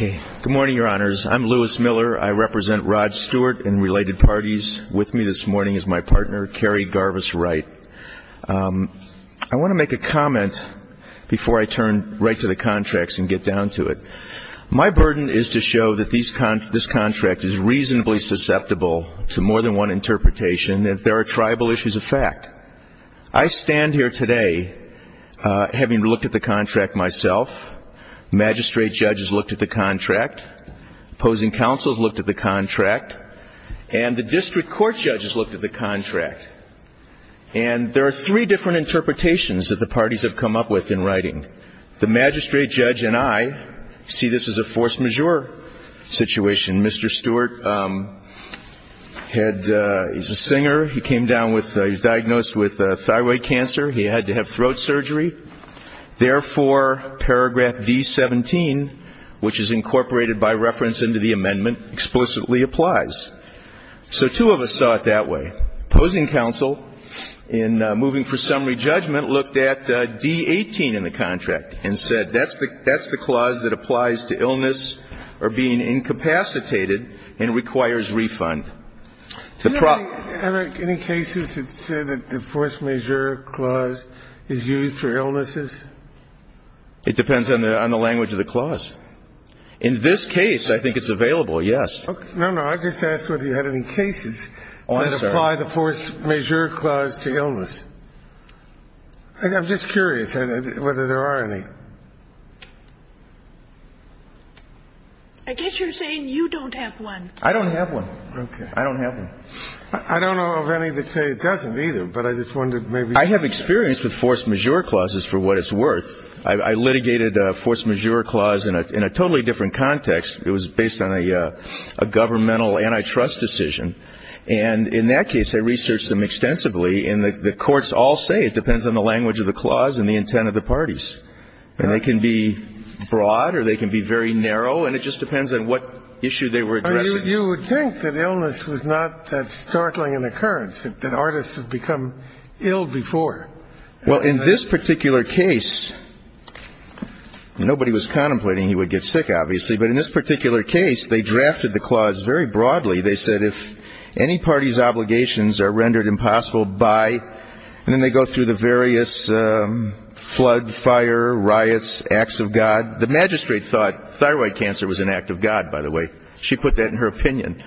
Good morning, your honors. I'm Louis Miller. I represent Rod Stewart and related parties. With me this morning is my partner, Carrie Garvis Wright. I want to make a comment before I turn right to the contracts and get down to it. My burden is to show that this contract is reasonably susceptible to more than one interpretation, and there are tribal issues of fact. I stand here today having looked at the contract myself. Magistrate judges looked at the contract. Opposing counsels looked at the contract. And the district court judges looked at the contract. And there are three different interpretations that the parties have come up with in writing. The magistrate judge and I see this as a force majeure situation. Mr. Stewart had he's a singer. He came down with he's diagnosed with thyroid cancer. He had to have throat surgery. Therefore, paragraph D-17, which is incorporated by reference into the amendment, explicitly applies. So two of us saw it that way. Opposing counsel, in moving for summary judgment, looked at D-18 in the contract and said that's the clause that applies to illness or being incapacitated and requires refund. Any cases that said that the force majeure clause is used for illnesses? It depends on the language of the clause. In this case, I think it's available, yes. No, no. I just asked whether you had any cases that apply the force majeure clause to illness. I'm just curious whether there are any. I guess you're saying you don't have one. I don't have one. Okay. I don't have one. I don't know of any that say it doesn't either, but I just wondered maybe. I have experience with force majeure clauses for what it's worth. I litigated a force majeure clause in a totally different context. It was based on a governmental antitrust decision. And in that case, I researched them extensively. And the courts all say it depends on the language of the clause and the intent of the parties. And they can be broad or they can be very narrow, and it just depends on what issue they were addressing. You would think that illness was not that startling an occurrence, that artists have become ill before. Well, in this particular case, nobody was contemplating he would get sick, obviously, but in this particular case, they drafted the clause very broadly. They said if any party's obligations are rendered impossible by, and then they go through the various flood, fire, riots, acts of God. The magistrate thought thyroid cancer was an act of God, by the way. She put that in her opinion.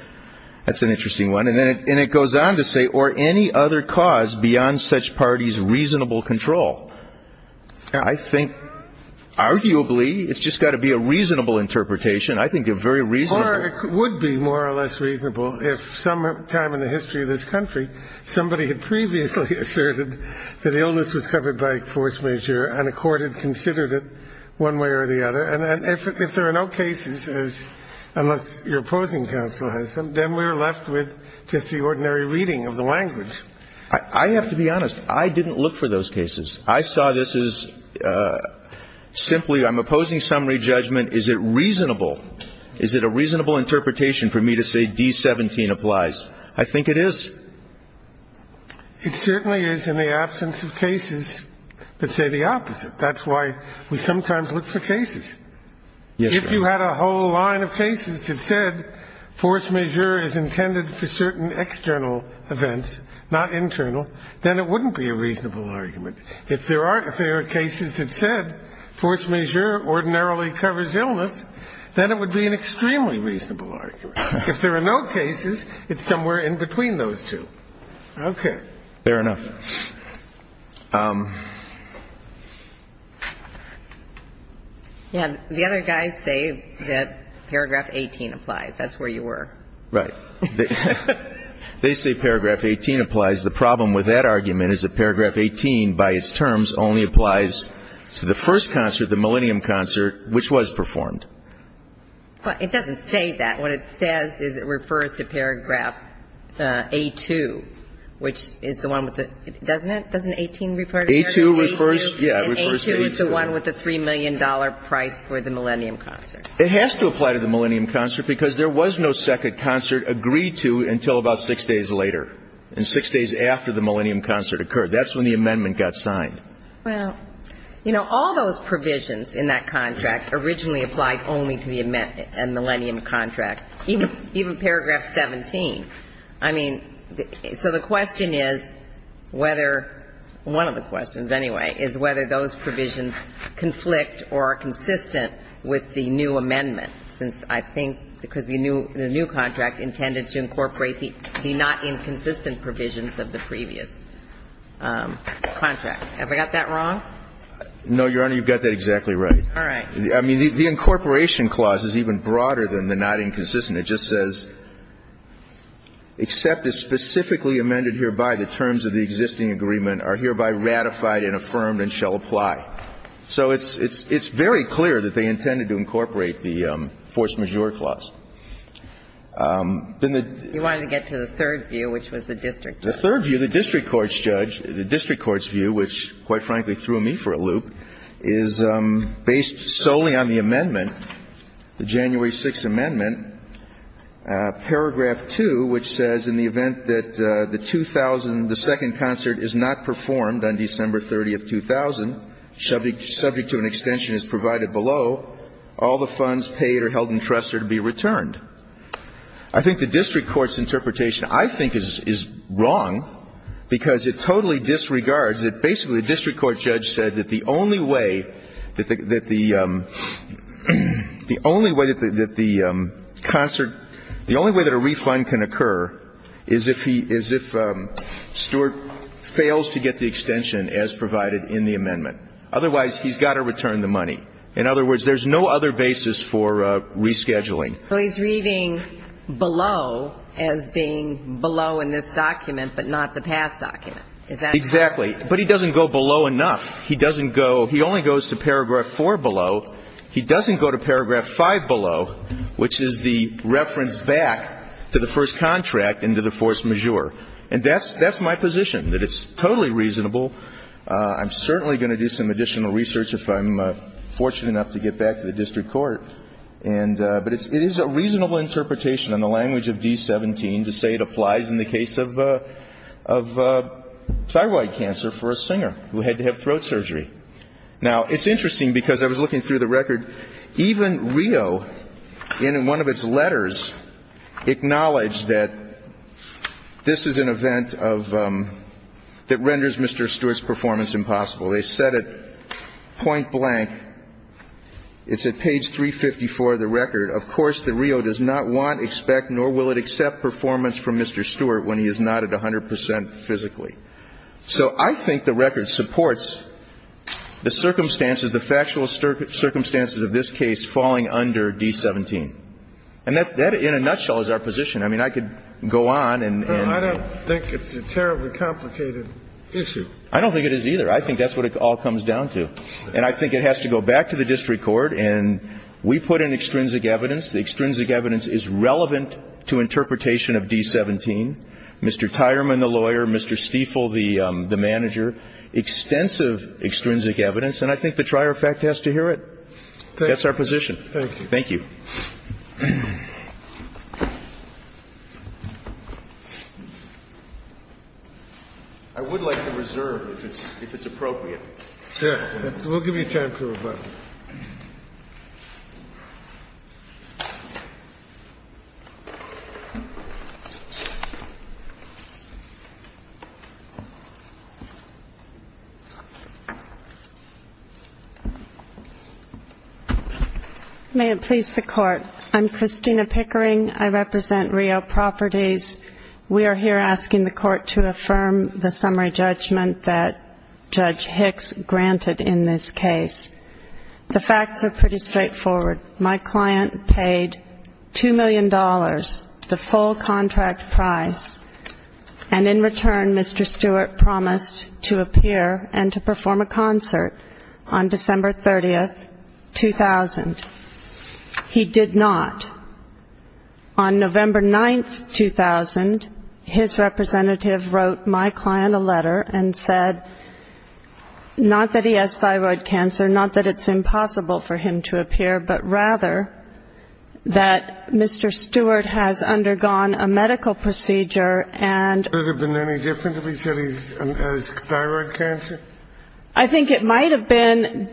That's an interesting one. And then it goes on to say, or any other cause beyond such parties' reasonable control. I think arguably it's just got to be a reasonable interpretation. I think a very reasonable Or it would be more or less reasonable if sometime in the history of this country somebody had previously asserted that illness was covered by force majeure and a court had considered it one way or the other. And if there are no cases, unless your opposing counsel has them, then we're left with just the ordinary reading of the language. I have to be honest. I didn't look for those cases. I saw this as simply I'm opposing summary judgment. Is it reasonable? Is it a reasonable interpretation for me to say D-17 applies? I think it is. It certainly is in the absence of cases that say the opposite. That's why we sometimes look for cases. If you had a whole line of cases that said force majeure is intended for certain external events, not internal, then it wouldn't be a reasonable argument. If there are cases that said force majeure ordinarily covers illness, then it would be an extremely reasonable argument. If there are no cases, it's somewhere in between those two. Okay. Fair enough. The other guys say that Paragraph 18 applies. That's where you were. Right. They say Paragraph 18 applies. The problem with that argument is that Paragraph 18 by its terms only applies to the first concert, the Millennium concert, which was performed. Well, it doesn't say that. What it says is it refers to Paragraph A-2, which is the one with the – doesn't it? Doesn't 18 refer to Paragraph A-2? A-2 refers – yeah, it refers to A-2. And A-2 is the one with the $3 million price for the Millennium concert. It has to apply to the Millennium concert because there was no second concert agreed to until about six days later, and six days after the Millennium concert occurred. That's when the amendment got signed. Well, you know, all those provisions in that contract originally applied only to the Millennium contract, even Paragraph 17. I mean, so the question is whether – one of the questions, anyway, is whether those provisions conflict or are consistent with the new amendment, since I think because the new contract intended to incorporate the not inconsistent provisions of the previous contract. Have I got that wrong? No, Your Honor, you've got that exactly right. All right. I mean, the incorporation clause is even broader than the not inconsistent. It just says, Except as specifically amended hereby, the terms of the existing agreement are hereby ratified and affirmed and shall apply. So it's very clear that they intended to incorporate the force majeure clause. Then the – You wanted to get to the third view, which was the district court's view. The third view, the district court's judge – the district court's view, which, quite frankly, threw me for a loop, is based solely on the amendment, the January 6th amendment, Paragraph 2, which says, In the event that the 2000 – the second concert is not performed on December 30th, 2000, subject to an extension as provided below, all the funds paid or held in interest are to be returned. I think the district court's interpretation, I think, is wrong, because it totally disregards that basically the district court judge said that the only way that the concert – the only way that a refund can occur is if he – is if Stewart fails to get the extension as provided in the amendment. Otherwise, he's got to return the money. In other words, there's no other basis for rescheduling. So he's reading below as being below in this document, but not the past document. Is that – Exactly. But he doesn't go below enough. He doesn't go – he only goes to Paragraph 4 below. He doesn't go to Paragraph 5 below, which is the reference back to the first contract and to the force majeure. And that's – that's my position, that it's totally reasonable. I'm certainly going to do some additional research if I'm fortunate enough to get back to the district court. And – but it's – it is a reasonable interpretation in the language of D-17 to say it applies in the case of thyroid cancer for a singer who had to have throat surgery. Now, it's interesting, because I was looking through the record. Even Rio, in one of Mr. Stewart's performance impossible. They set it point blank. It's at page 354 of the record. Of course, the Rio does not want, expect, nor will it accept performance from Mr. Stewart when he is not at 100 percent physically. So I think the record supports the circumstances, the factual circumstances of this case falling under D-17. And that, in a nutshell, is our position. I mean, I could go on and – I don't think it is either. I think that's what it all comes down to. And I think it has to go back to the district court. And we put in extrinsic evidence. The extrinsic evidence is relevant to interpretation of D-17. Mr. Tyerman, the lawyer, Mr. Stiefel, the manager, extensive extrinsic evidence. And I think the trier of fact has to hear it. That's our position. Thank you. Thank you. I would like to reserve, if it's appropriate. Yes. We'll give you time to rebut. May it please the Court. I'm Christina Pickering. I represent Rio Properties. We are here asking the Court to affirm the summary judgment that Judge Hicks granted in this case. The facts are pretty straightforward. My client paid $2 million, the full contract price. And in return, Mr. Stewart promised to appear and to perform a concert on December 30, 2000. He did not. On November 9, 2000, his representative wrote my client a letter and said not that he has thyroid cancer, not that it's impossible for him to appear, but rather that Mr. Stewart has undergone a medical procedure and Could it have been any different if he said he has thyroid cancer? I think it might have been.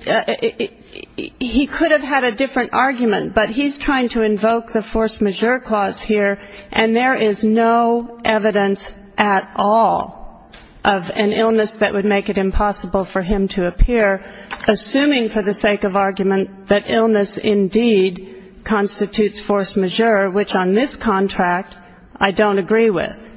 He could have had a different argument, but he's trying to invoke the force majeure clause here, and there is no evidence at all of an illness that would make it impossible for him to appear, assuming for the sake of argument that illness indeed constitutes force majeure, which on this contract I don't agree with.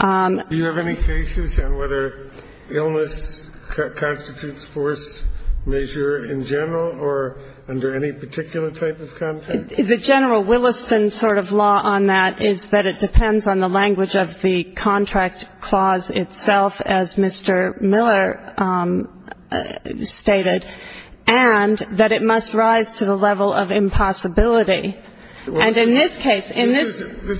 Do you have any cases on whether illness constitutes force majeure in general or under any particular type of contract? The general Williston sort of law on that is that it depends on the language of the contract clause itself, as Mr. Miller stated, and that it must rise to the level of impossibility. This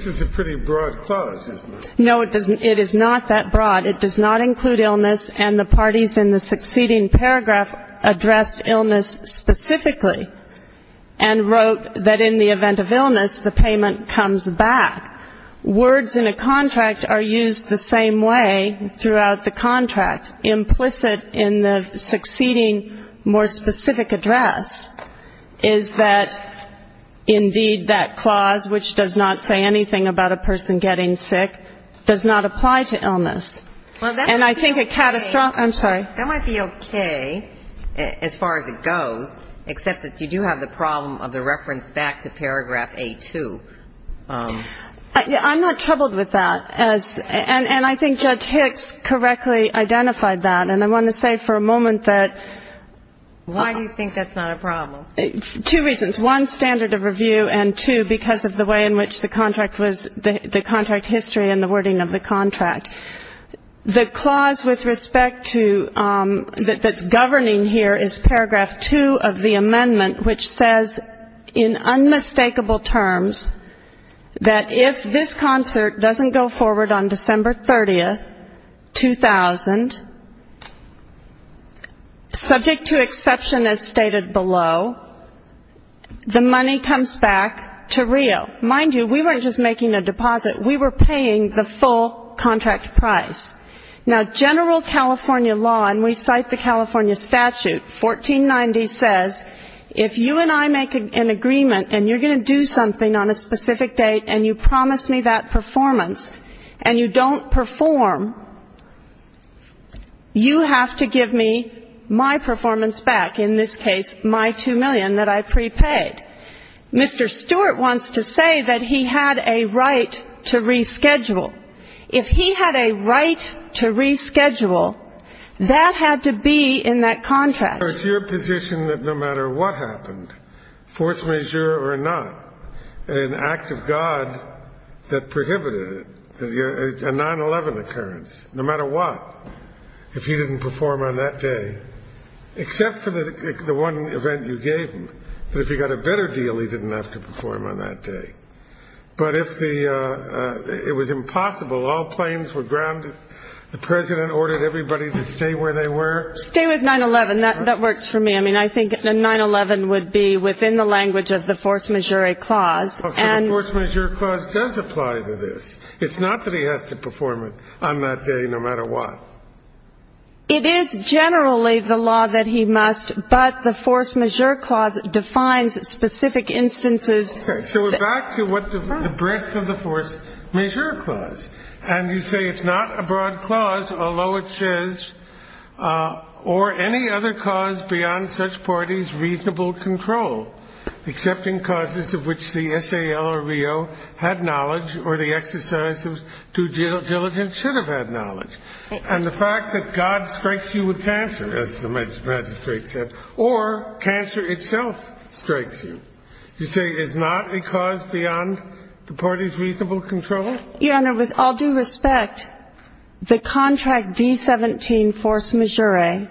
is a pretty broad clause, isn't it? No, it is not that broad. It does not include illness, and the parties in the succeeding paragraph addressed illness specifically and wrote that in the event of illness, the payment comes back. Words in a contract are used the same way throughout the contract. in the succeeding more specific address is that indeed that clause, which does not say anything about a person getting sick, does not apply to illness. Well, that might be okay. I'm sorry. That might be okay as far as it goes, except that you do have the problem of the reference back to paragraph A-2. I'm not troubled with that. And I think Judge Hicks correctly identified that. And I want to say for a moment that why do you think that's not a problem? Two reasons. One, standard of review, and two, because of the way in which the contract was, the contract history and the wording of the contract. The clause with respect to that's governing here is paragraph 2 of the amendment, which says in unmistakable terms that if this concert doesn't go forward on December 30, 2000, subject to exception as stated below, the money comes back to Rio. Mind you, we weren't just making a deposit. We were paying the full contract price. Now, general California law, and we cite the California statute, 1490 says, if you and I make an agreement and you're going to do something on a specific date and you promise me that performance and you don't perform, you have to give me my performance back, in this case my $2 million that I prepaid. Mr. Stewart wants to say that he had a right to reschedule. If he had a right to reschedule, that had to be in that contract. So it's your position that no matter what happened, force majeure or not, an act of God that prohibited it, a 9-11 occurrence, no matter what, if he didn't perform on that day, except for the one event you gave him, that if he got a better deal, he didn't have to perform on that day. But if it was impossible, all planes were grounded, the President ordered everybody to stay where they were? Stay with 9-11. That works for me. I mean, I think a 9-11 would be within the language of the force majeure clause. So the force majeure clause does apply to this. It's not that he has to perform it on that day, no matter what. It is generally the law that he must, but the force majeure clause defines specific instances. So we're back to what the breadth of the force majeure clause. And you say it's not a broad clause, although it says, or any other cause beyond such parties' reasonable control, except in causes of which the S.A.L. or RIO had knowledge or the exercise of due diligence should have had knowledge. And the fact that God strikes you with cancer, as the magistrate said, or cancer itself strikes you, you say is not a cause beyond the party's reasonable control? Your Honor, with all due respect, the contract D-17 force majeure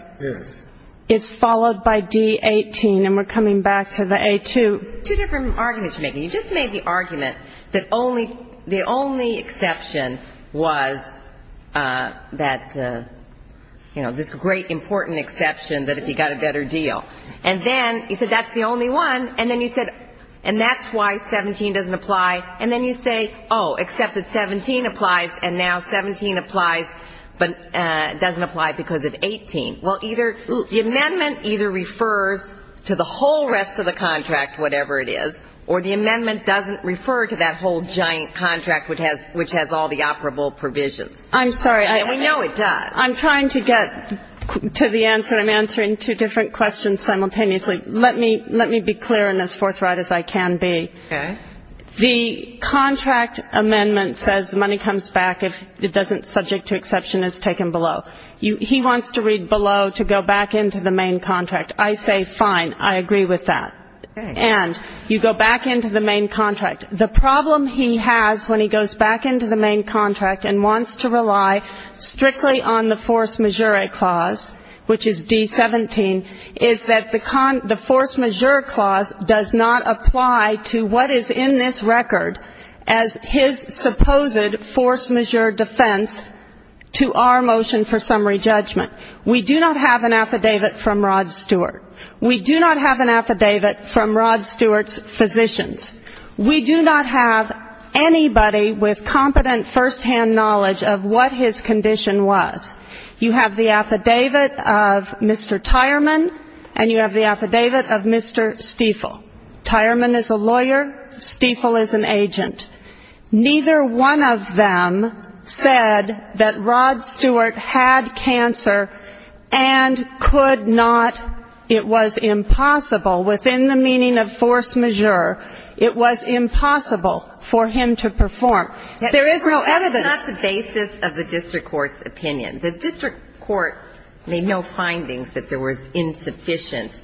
is followed by D-18. And we're coming back to the A-2. Two different arguments you're making. You just made the argument that the only exception was that, you know, this great important exception that if you got a better deal. And then you said that's the only one. And then you said, and that's why 17 doesn't apply. And then you say, oh, except that 17 applies and now 17 applies but doesn't apply because of 18. Well, either the amendment either refers to the whole rest of the contract, whatever it is, or the amendment doesn't refer to that whole giant contract which has all the operable provisions. I'm sorry. And we know it does. I'm trying to get to the answer. I'm answering two different questions simultaneously. Let me be clear and as forthright as I can be. Okay. The contract amendment says money comes back if it doesn't subject to exception is taken below. He wants to read below to go back into the main contract. I say fine. I agree with that. And you go back into the main contract. The problem he has when he goes back into the main contract and wants to rely strictly on the force majeure clause, which is D-17, is that the force majeure clause does not apply to what is in this record as his supposed force majeure defense to our motion for summary judgment. We do not have an affidavit from Rod Stewart. We do not have an affidavit from Rod Stewart's physicians. We do not have anybody with competent firsthand knowledge of what his condition was. You have the affidavit of Mr. Tyerman, and you have the affidavit of Mr. Stiefel. Tyerman is a lawyer. Stiefel is an agent. Neither one of them said that Rod Stewart had cancer and could not. It was impossible. Within the meaning of force majeure, it was impossible for him to perform. There is no evidence. It's not the basis of the district court's opinion. The district court made no findings that there was insufficient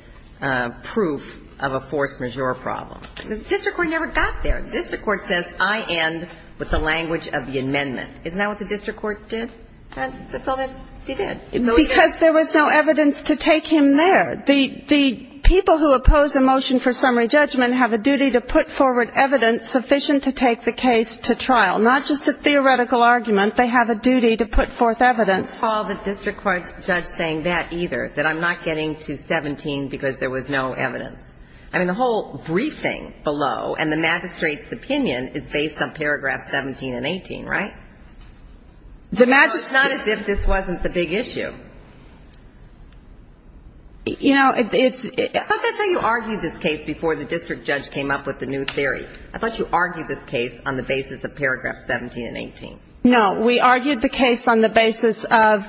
proof of a force majeure problem. The district court never got there. The district court says, I end with the language of the amendment. Isn't that what the district court did? And that's all they did. Because there was no evidence to take him there. The people who oppose a motion for summary judgment have a duty to put forward evidence sufficient to take the case to trial, not just a theoretical argument. They have a duty to put forth evidence. I don't recall the district court judge saying that either, that I'm not getting to 17 because there was no evidence. I mean, the whole briefing below and the magistrate's opinion is based on paragraphs 17 and 18, right? It's not as if this wasn't the big issue. You know, it's ‑‑ I thought you argued this case on the basis of paragraph 17 and 18. No. We argued the case on the basis of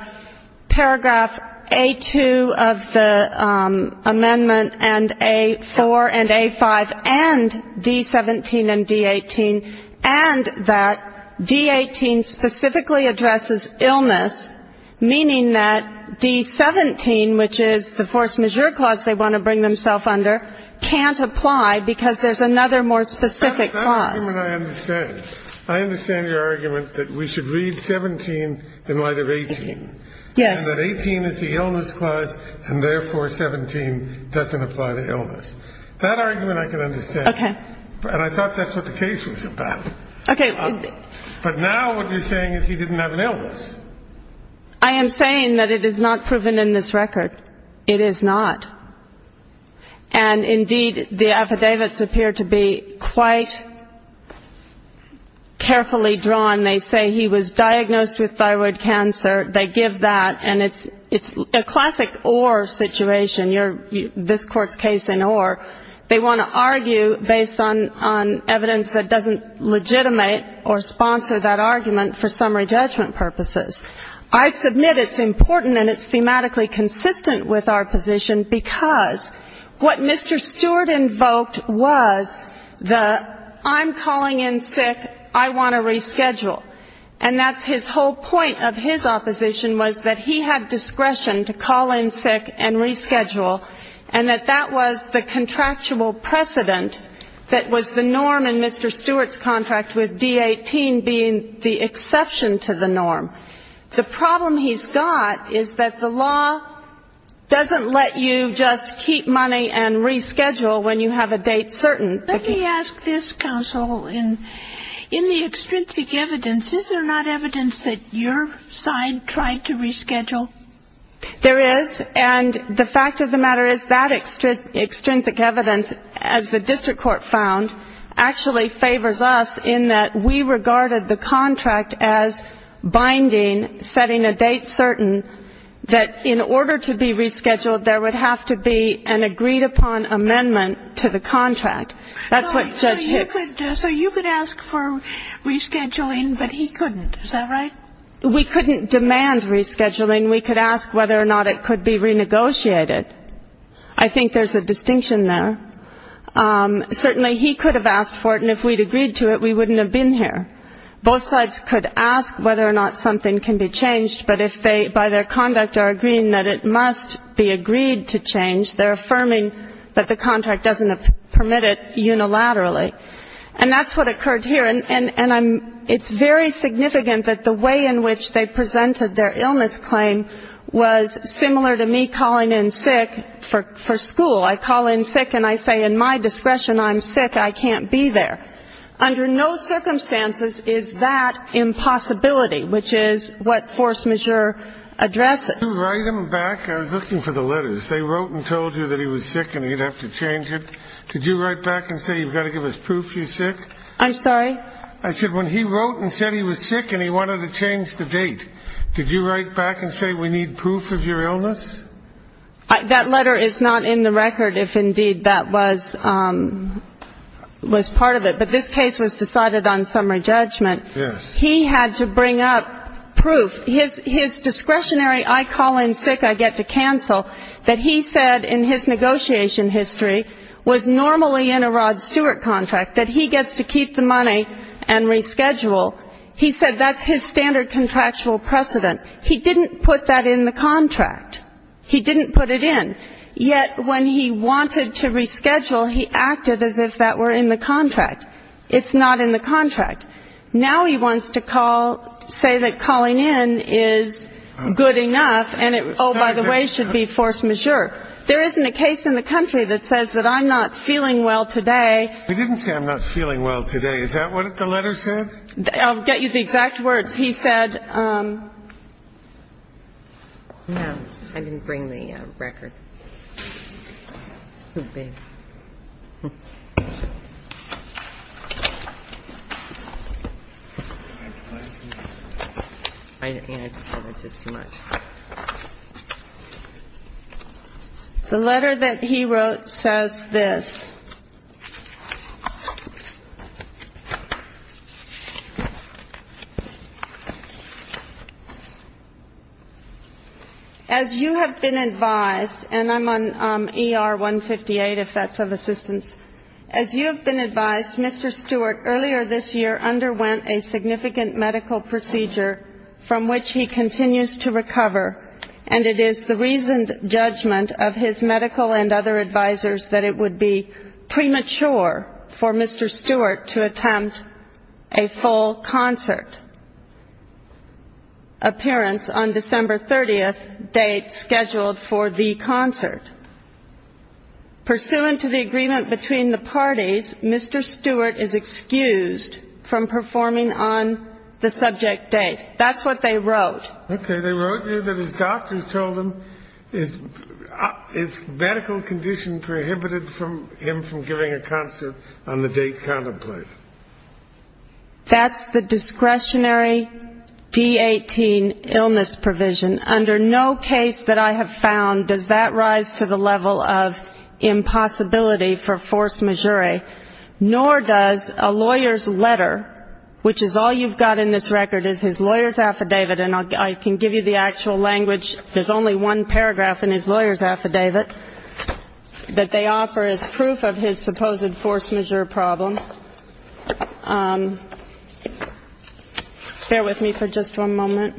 paragraph A2 of the amendment and A4 and A5 and D17 and D18, and that D18 specifically addresses illness, meaning that D17, which is the force majeure clause they want to bring themselves under, can't apply because there's another more specific clause. That argument I understand. I understand your argument that we should read 17 in light of 18. Yes. And that 18 is the illness clause, and therefore 17 doesn't apply to illness. That argument I can understand. Okay. And I thought that's what the case was about. Okay. But now what you're saying is he didn't have an illness. I am saying that it is not proven in this record. It is not. And, indeed, the affidavits appear to be quite carefully drawn. They say he was diagnosed with thyroid cancer. They give that. And it's a classic or situation. This Court's case in or. They want to argue based on evidence that doesn't legitimate or sponsor that argument for summary judgment purposes. I submit it's important and it's thematically consistent with our position, because what Mr. Stewart invoked was the I'm calling in sick, I want to reschedule. And that's his whole point of his opposition, was that he had discretion to call in sick and reschedule, and that that was the contractual precedent that was the norm in Mr. The problem he's got is that the law doesn't let you just keep money and reschedule when you have a date certain. Let me ask this, counsel. In the extrinsic evidence, is there not evidence that your side tried to reschedule? There is. And the fact of the matter is that extrinsic evidence, as the district court found, actually favors us in that we regarded the contract as binding, setting a date certain, that in order to be rescheduled, there would have to be an agreed-upon amendment to the contract. That's what Judge Hicks. So you could ask for rescheduling, but he couldn't. Is that right? We couldn't demand rescheduling. We could ask whether or not it could be renegotiated. I think there's a distinction there. Certainly he could have asked for it, and if we'd agreed to it, we wouldn't have been here. Both sides could ask whether or not something can be changed, but if they, by their conduct, are agreeing that it must be agreed to change, they're affirming that the contract doesn't permit it unilaterally. And that's what occurred here. And it's very significant that the way in which they presented their illness claim was similar to me calling in sick for school. I call in sick and I say in my discretion I'm sick, I can't be there. Under no circumstances is that impossibility, which is what force majeure addresses. Did you write him back? I was looking for the letters. They wrote and told you that he was sick and he'd have to change it. Did you write back and say you've got to give us proof he's sick? I'm sorry? I said when he wrote and said he was sick and he wanted to change the date, did you write back and say we need proof of your illness? That letter is not in the record, if indeed that was part of it. But this case was decided on summary judgment. Yes. He had to bring up proof. His discretionary I call in sick, I get to cancel, that he said in his negotiation history, was normally in a Rod Stewart contract, that he gets to keep the money and reschedule. He said that's his standard contractual precedent. He didn't put that in the contract. He didn't put it in. Yet when he wanted to reschedule, he acted as if that were in the contract. It's not in the contract. Now he wants to call, say that calling in is good enough and, oh, by the way, should be force majeure. There isn't a case in the country that says that I'm not feeling well today. He didn't say I'm not feeling well today. Is that what the letter said? I'll get you the exact words. He said no, I didn't bring the record. The letter that he wrote says this. As you have been advised, and I'm on ER 158 if that's of assistance, as you have been advised, Mr. Stewart earlier this year underwent a significant medical procedure from which he continues to recover, and it is the reasoned judgment of his medical and other advisors that it would be premature for Mr. Stewart to attempt a full concert appearance on December 30th date scheduled for the concert. Pursuant to the agreement between the parties, Mr. Stewart is excused from performing on the subject date. That's what they wrote. Okay, they wrote you that his doctors told him his medical condition prohibited him from giving a concert on the date contemplated. That's the discretionary D-18 illness provision. Under no case that I have found does that rise to the level of impossibility for force majeure, nor does a lawyer's letter, which is all you've got in this record is his lawyer's affidavit, and I can give you the actual language. There's only one paragraph in his lawyer's affidavit that they offer as proof of his supposed force majeure problem. Bear with me for just one moment.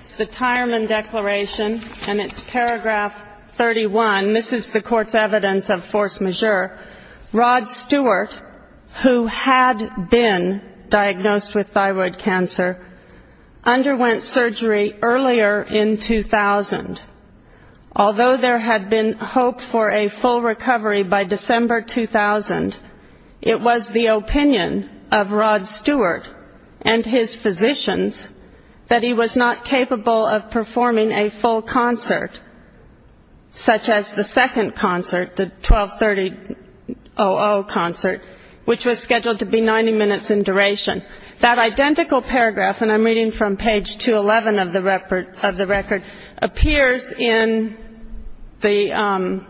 It's the Tyerman Declaration, and it's paragraph 31. This is the court's evidence of force majeure. Rod Stewart, who had been diagnosed with thyroid cancer, underwent surgery earlier in 2000. Although there had been hope for a full recovery by December 2000, it was the opinion of Rod Stewart and his physicians that he was not capable of performing a full concert, such as the second concert, the 1230-00 concert, which was scheduled to be 90 minutes in duration. That identical paragraph, and I'm reading from page 211 of the record, appears in the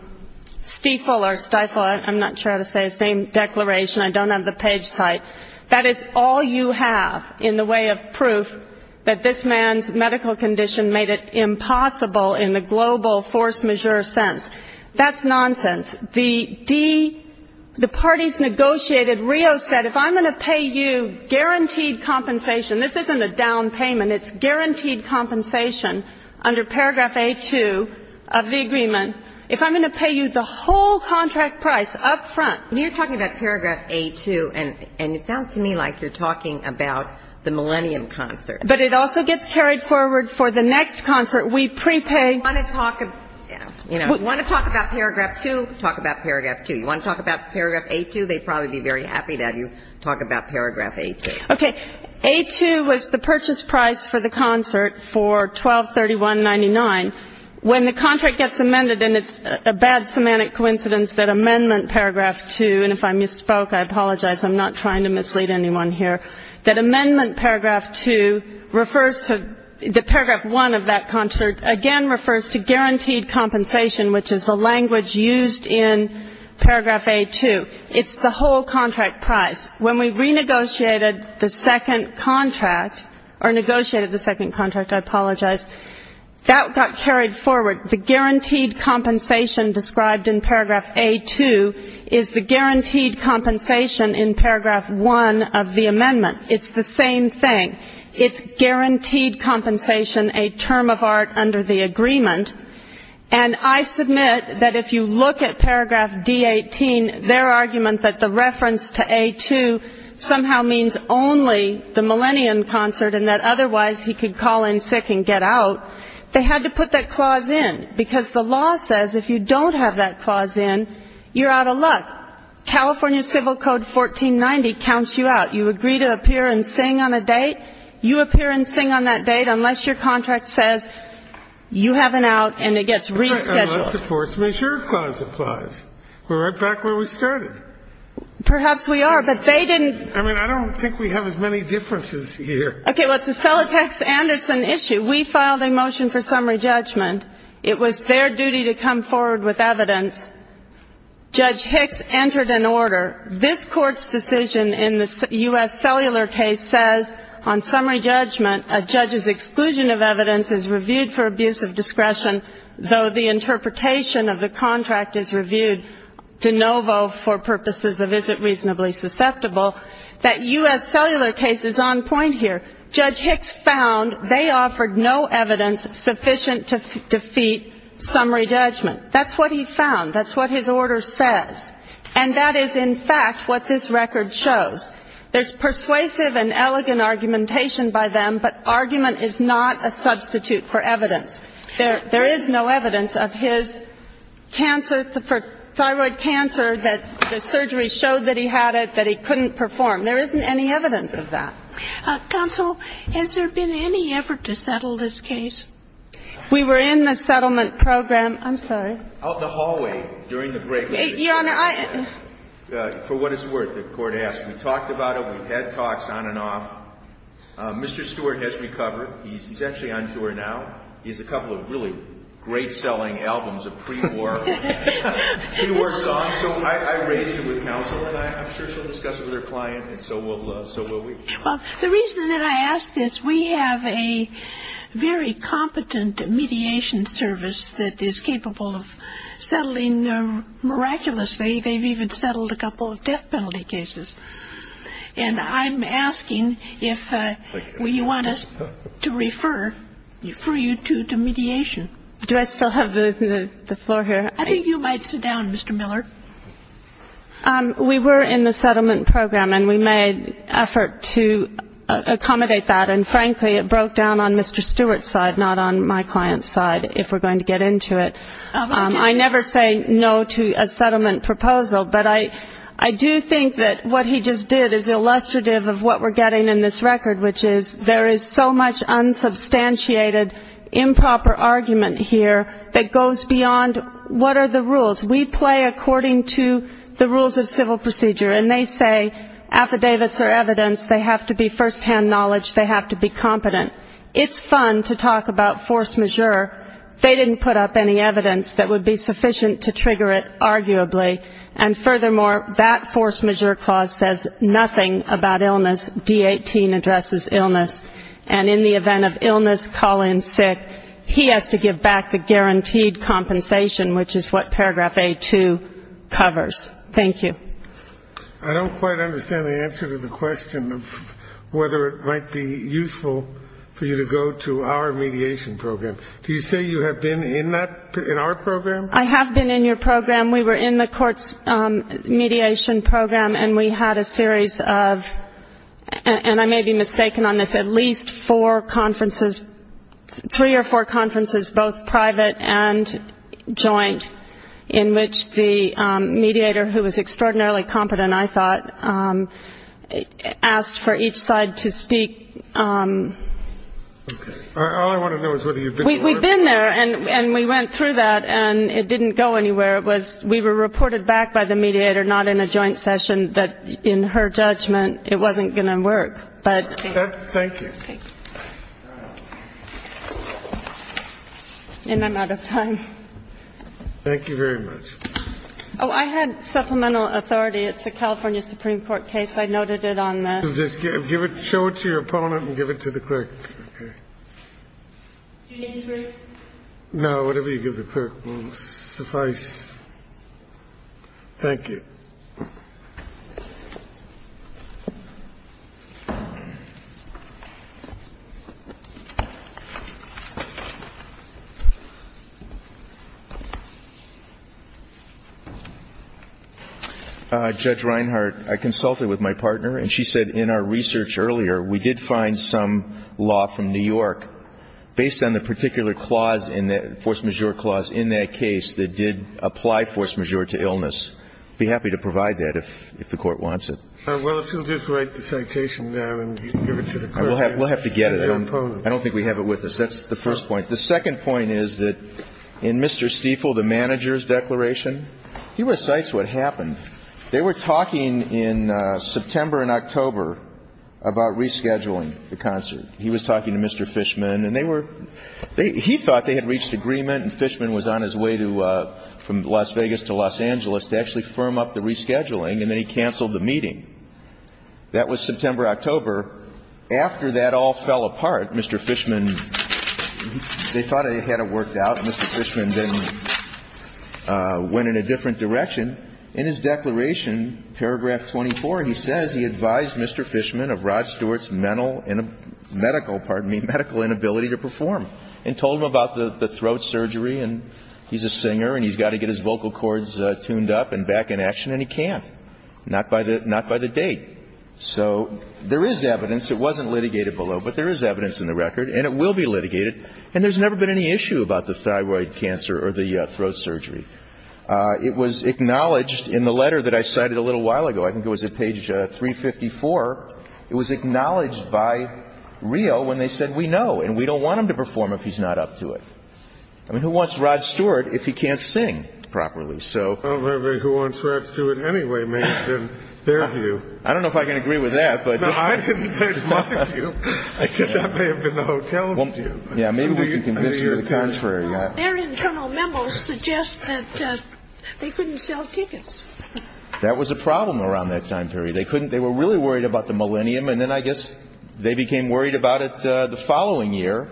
Stiefel or Stiefel, I'm not sure how to say his name, declaration. I don't have the page site. That is all you have in the way of proof that this man's medical condition made it impossible in the global force majeure sense. That's nonsense. The parties negotiated. Rio said, if I'm going to pay you guaranteed compensation, this isn't a down payment, it's guaranteed compensation under paragraph A-2 of the agreement. If I'm going to pay you the whole contract price up front. You're talking about paragraph A-2, and it sounds to me like you're talking about the Millennium concert. But it also gets carried forward for the next concert. We prepay. You want to talk about paragraph 2, talk about paragraph 2. You want to talk about paragraph A-2, they'd probably be very happy to have you talk about paragraph A-2. Okay. A-2 was the purchase price for the concert for $1,231.99. When the contract gets amended, and it's a bad semantic coincidence that amendment paragraph 2, and if I misspoke, I apologize, I'm not trying to mislead anyone here, that amendment paragraph 2 refers to the paragraph 1 of that concert again refers to guaranteed compensation, which is the language used in paragraph A-2. It's the whole contract price. When we renegotiated the second contract, or negotiated the second contract, I apologize, that got carried forward. The guaranteed compensation described in paragraph A-2 is the guaranteed compensation in paragraph 1 of the amendment. It's the same thing. It's guaranteed compensation, a term of art under the agreement. And I submit that if you look at paragraph D-18, their argument that the reference to A-2 somehow means only the Millennium concert and that otherwise he could call in sick and get out, they had to put that clause in, because the law says if you don't have that clause in, you're out of luck. California Civil Code 1490 counts you out. You agree to appear and sing on a date, you appear and sing on that date, unless your contract says you have an out and it gets rescheduled. Unless the force majeure clause applies. We're right back where we started. Perhaps we are, but they didn't. I mean, I don't think we have as many differences here. Okay. Well, it's a Celotex-Anderson issue. We filed a motion for summary judgment. It was their duty to come forward with evidence. Judge Hicks entered an order. This Court's decision in the U.S. Cellular case says on summary judgment, a judge's exclusion of evidence is reviewed for abuse of discretion, though the interpretation of the contract is reviewed de novo for purposes of is it reasonably susceptible, that U.S. Cellular case is on point here. Judge Hicks found they offered no evidence sufficient to defeat summary judgment. That's what he found. That's what his order says. And that is, in fact, what this record shows. There's persuasive and elegant argumentation by them, but argument is not a substitute for evidence. There is no evidence of his cancer, thyroid cancer, that the surgery showed that he had it, that he couldn't perform. There isn't any evidence of that. Counsel, has there been any effort to settle this case? We were in the settlement program. I'm sorry. Out the hallway during the break. Your Honor, I — For what it's worth, the Court asked. We talked about it. We've had talks on and off. Mr. Stewart has recovered. He's actually on tour now. He has a couple of really great-selling albums of pre-war songs. So I raised it with counsel, and I'm sure she'll discuss it with her client, and so will we. Well, the reason that I ask this, we have a very competent mediation service that is capable of settling miraculously. They've even settled a couple of death penalty cases. And I'm asking if you want us to refer you to mediation. Do I still have the floor here? I think you might sit down, Mr. Miller. We were in the settlement program, and we made effort to accommodate that. And, frankly, it broke down on Mr. Stewart's side, not on my client's side, if we're going to get into it. I never say no to a settlement proposal, but I do think that what he just did is illustrative of what we're getting in this record, which is there is so much unsubstantiated improper argument here that goes beyond what are the rules. We play according to the rules of civil procedure, and they say affidavits are evidence. They have to be firsthand knowledge. They have to be competent. It's fun to talk about force majeure. They didn't put up any evidence that would be sufficient to trigger it, arguably. And, furthermore, that force majeure clause says nothing about illness. D-18 addresses illness. And in the event of illness, call-in, sick, he has to give back the guaranteed compensation, which is what paragraph A-2 covers. Thank you. I don't quite understand the answer to the question of whether it might be useful for you to go to our mediation program. Do you say you have been in that, in our program? I have been in your program. We were in the court's mediation program, and we had a series of, and I may be mistaken on this, at least four conferences, three or four conferences, both private and joint, in which the mediator, who was extraordinarily competent, I thought, asked for each side to speak. All I want to know is whether you've been to work. We've been there, and we went through that, and it didn't go anywhere. We were reported back by the mediator, not in a joint session, that, in her judgment, it wasn't going to work. But thank you. And I'm out of time. Thank you very much. Oh, I had supplemental authority. It's the California Supreme Court case. I noted it on the... Just show it to your opponent and give it to the clerk. Okay. Do you need proof? No. Whatever you give the clerk will suffice. Thank you. Judge Reinhardt, I consulted with my partner, and she said in our research earlier we did find some law from New York based on the particular clause in the force majeure clause in that case that did apply force majeure to illness. Thank you. I'm happy to provide that if the Court wants it. Well, if you'll just write the citation now and give it to the clerk and your opponent. We'll have to get it. I don't think we have it with us. That's the first point. The second point is that in Mr. Stiefel, the manager's declaration, he recites what happened. They were talking in September and October about rescheduling the concert. He was talking to Mr. Fishman, and they were – he thought they had reached agreement and Fishman was on his way to – from Las Vegas to Los Angeles to actually firm up the rescheduling, and then he canceled the meeting. That was September, October. After that all fell apart, Mr. Fishman – they thought they had it worked out. Mr. Fishman then went in a different direction. In his declaration, paragraph 24, he says he advised Mr. Fishman of Rod Stewart's mental – medical, pardon me, medical inability to perform and told him about the throat surgery and he's a singer and he's got to get his vocal cords tuned up and back in action, and he can't. Not by the – not by the date. So there is evidence. It wasn't litigated below, but there is evidence in the record, and it will be litigated. And there's never been any issue about the thyroid cancer or the throat surgery. It was acknowledged in the letter that I cited a little while ago. I think it was at page 354. It was acknowledged by Rio when they said, we know, and we don't want him to perform if he's not up to it. I mean, who wants Rod Stewart if he can't sing properly? Well, maybe who wants Rod Stewart anyway may have been their view. I don't know if I can agree with that, but – No, I didn't say it's my view. I said that may have been the hotel's view. Yeah, maybe we can convince her the contrary. Their internal memos suggest that they couldn't sell tickets. That was a problem around that time period. They couldn't – they were really worried about the millennium, and then I guess they became worried about it the following year,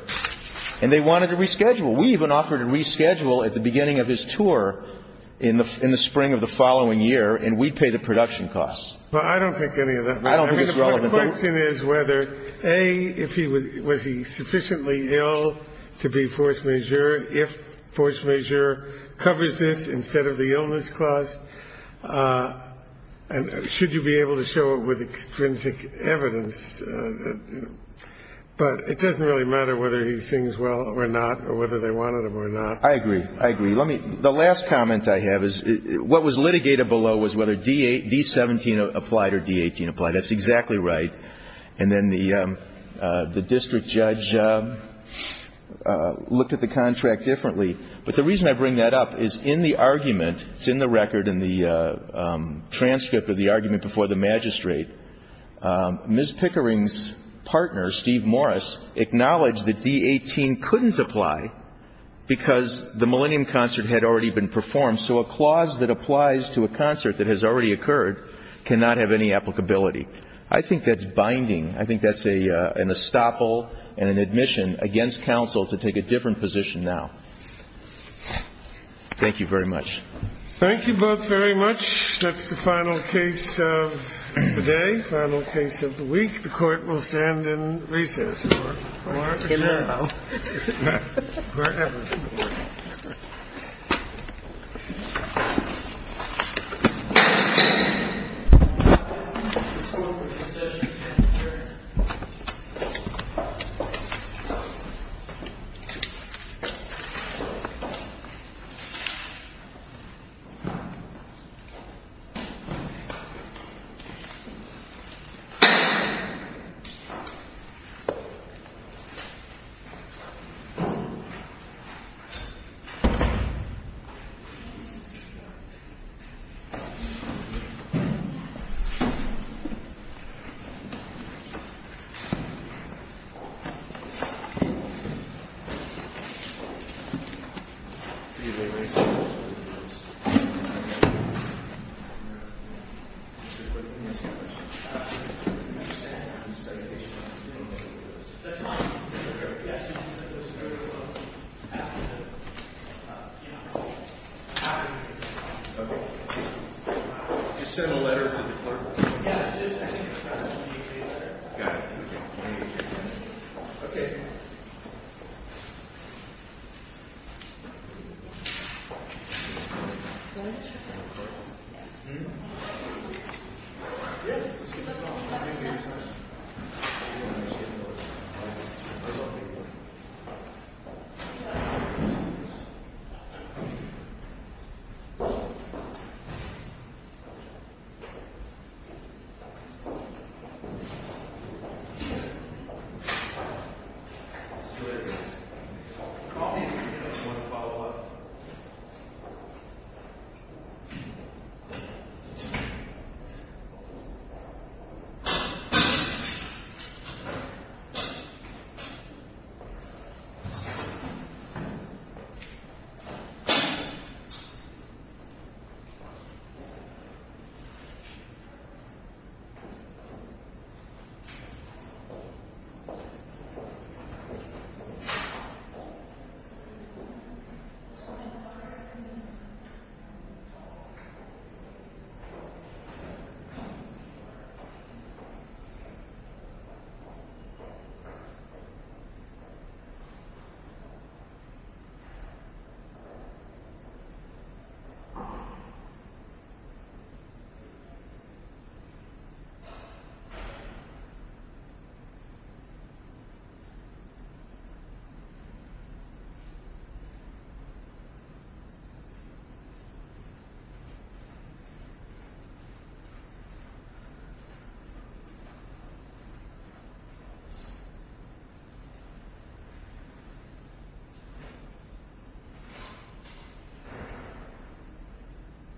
and they wanted to reschedule. We even offered to reschedule at the beginning of his tour in the spring of the following year, and we'd pay the production costs. Well, I don't think any of that matters. I don't think it's relevant. I mean, the question is whether, A, if he was – was he sufficiently ill to be force majeure, if force majeure covers this instead of the illness cost, and should you be able to show it with extrinsic evidence. But it doesn't really matter whether he sings well or not or whether they wanted him or not. I agree. I agree. Let me – the last comment I have is what was litigated below was whether D-17 applied or D-18 applied. That's exactly right. And then the district judge looked at the contract differently. But the reason I bring that up is in the argument – it's in the record in the transcript of the argument before the magistrate – Ms. Pickering's partner, Steve Morris, acknowledged that D-18 couldn't apply because the millennium concert had already been performed. So a clause that applies to a concert that has already occurred cannot have any applicability. I think that's binding. I think that's an estoppel and an admission against counsel to take a different position now. Thank you very much. Thank you both very much. That's the final case of the day, final case of the week. The Court will stand in recess. Thank you. Thank you. Thank you. Thank you. Thank you. Thank you. Thank you. Thank you. Thank you.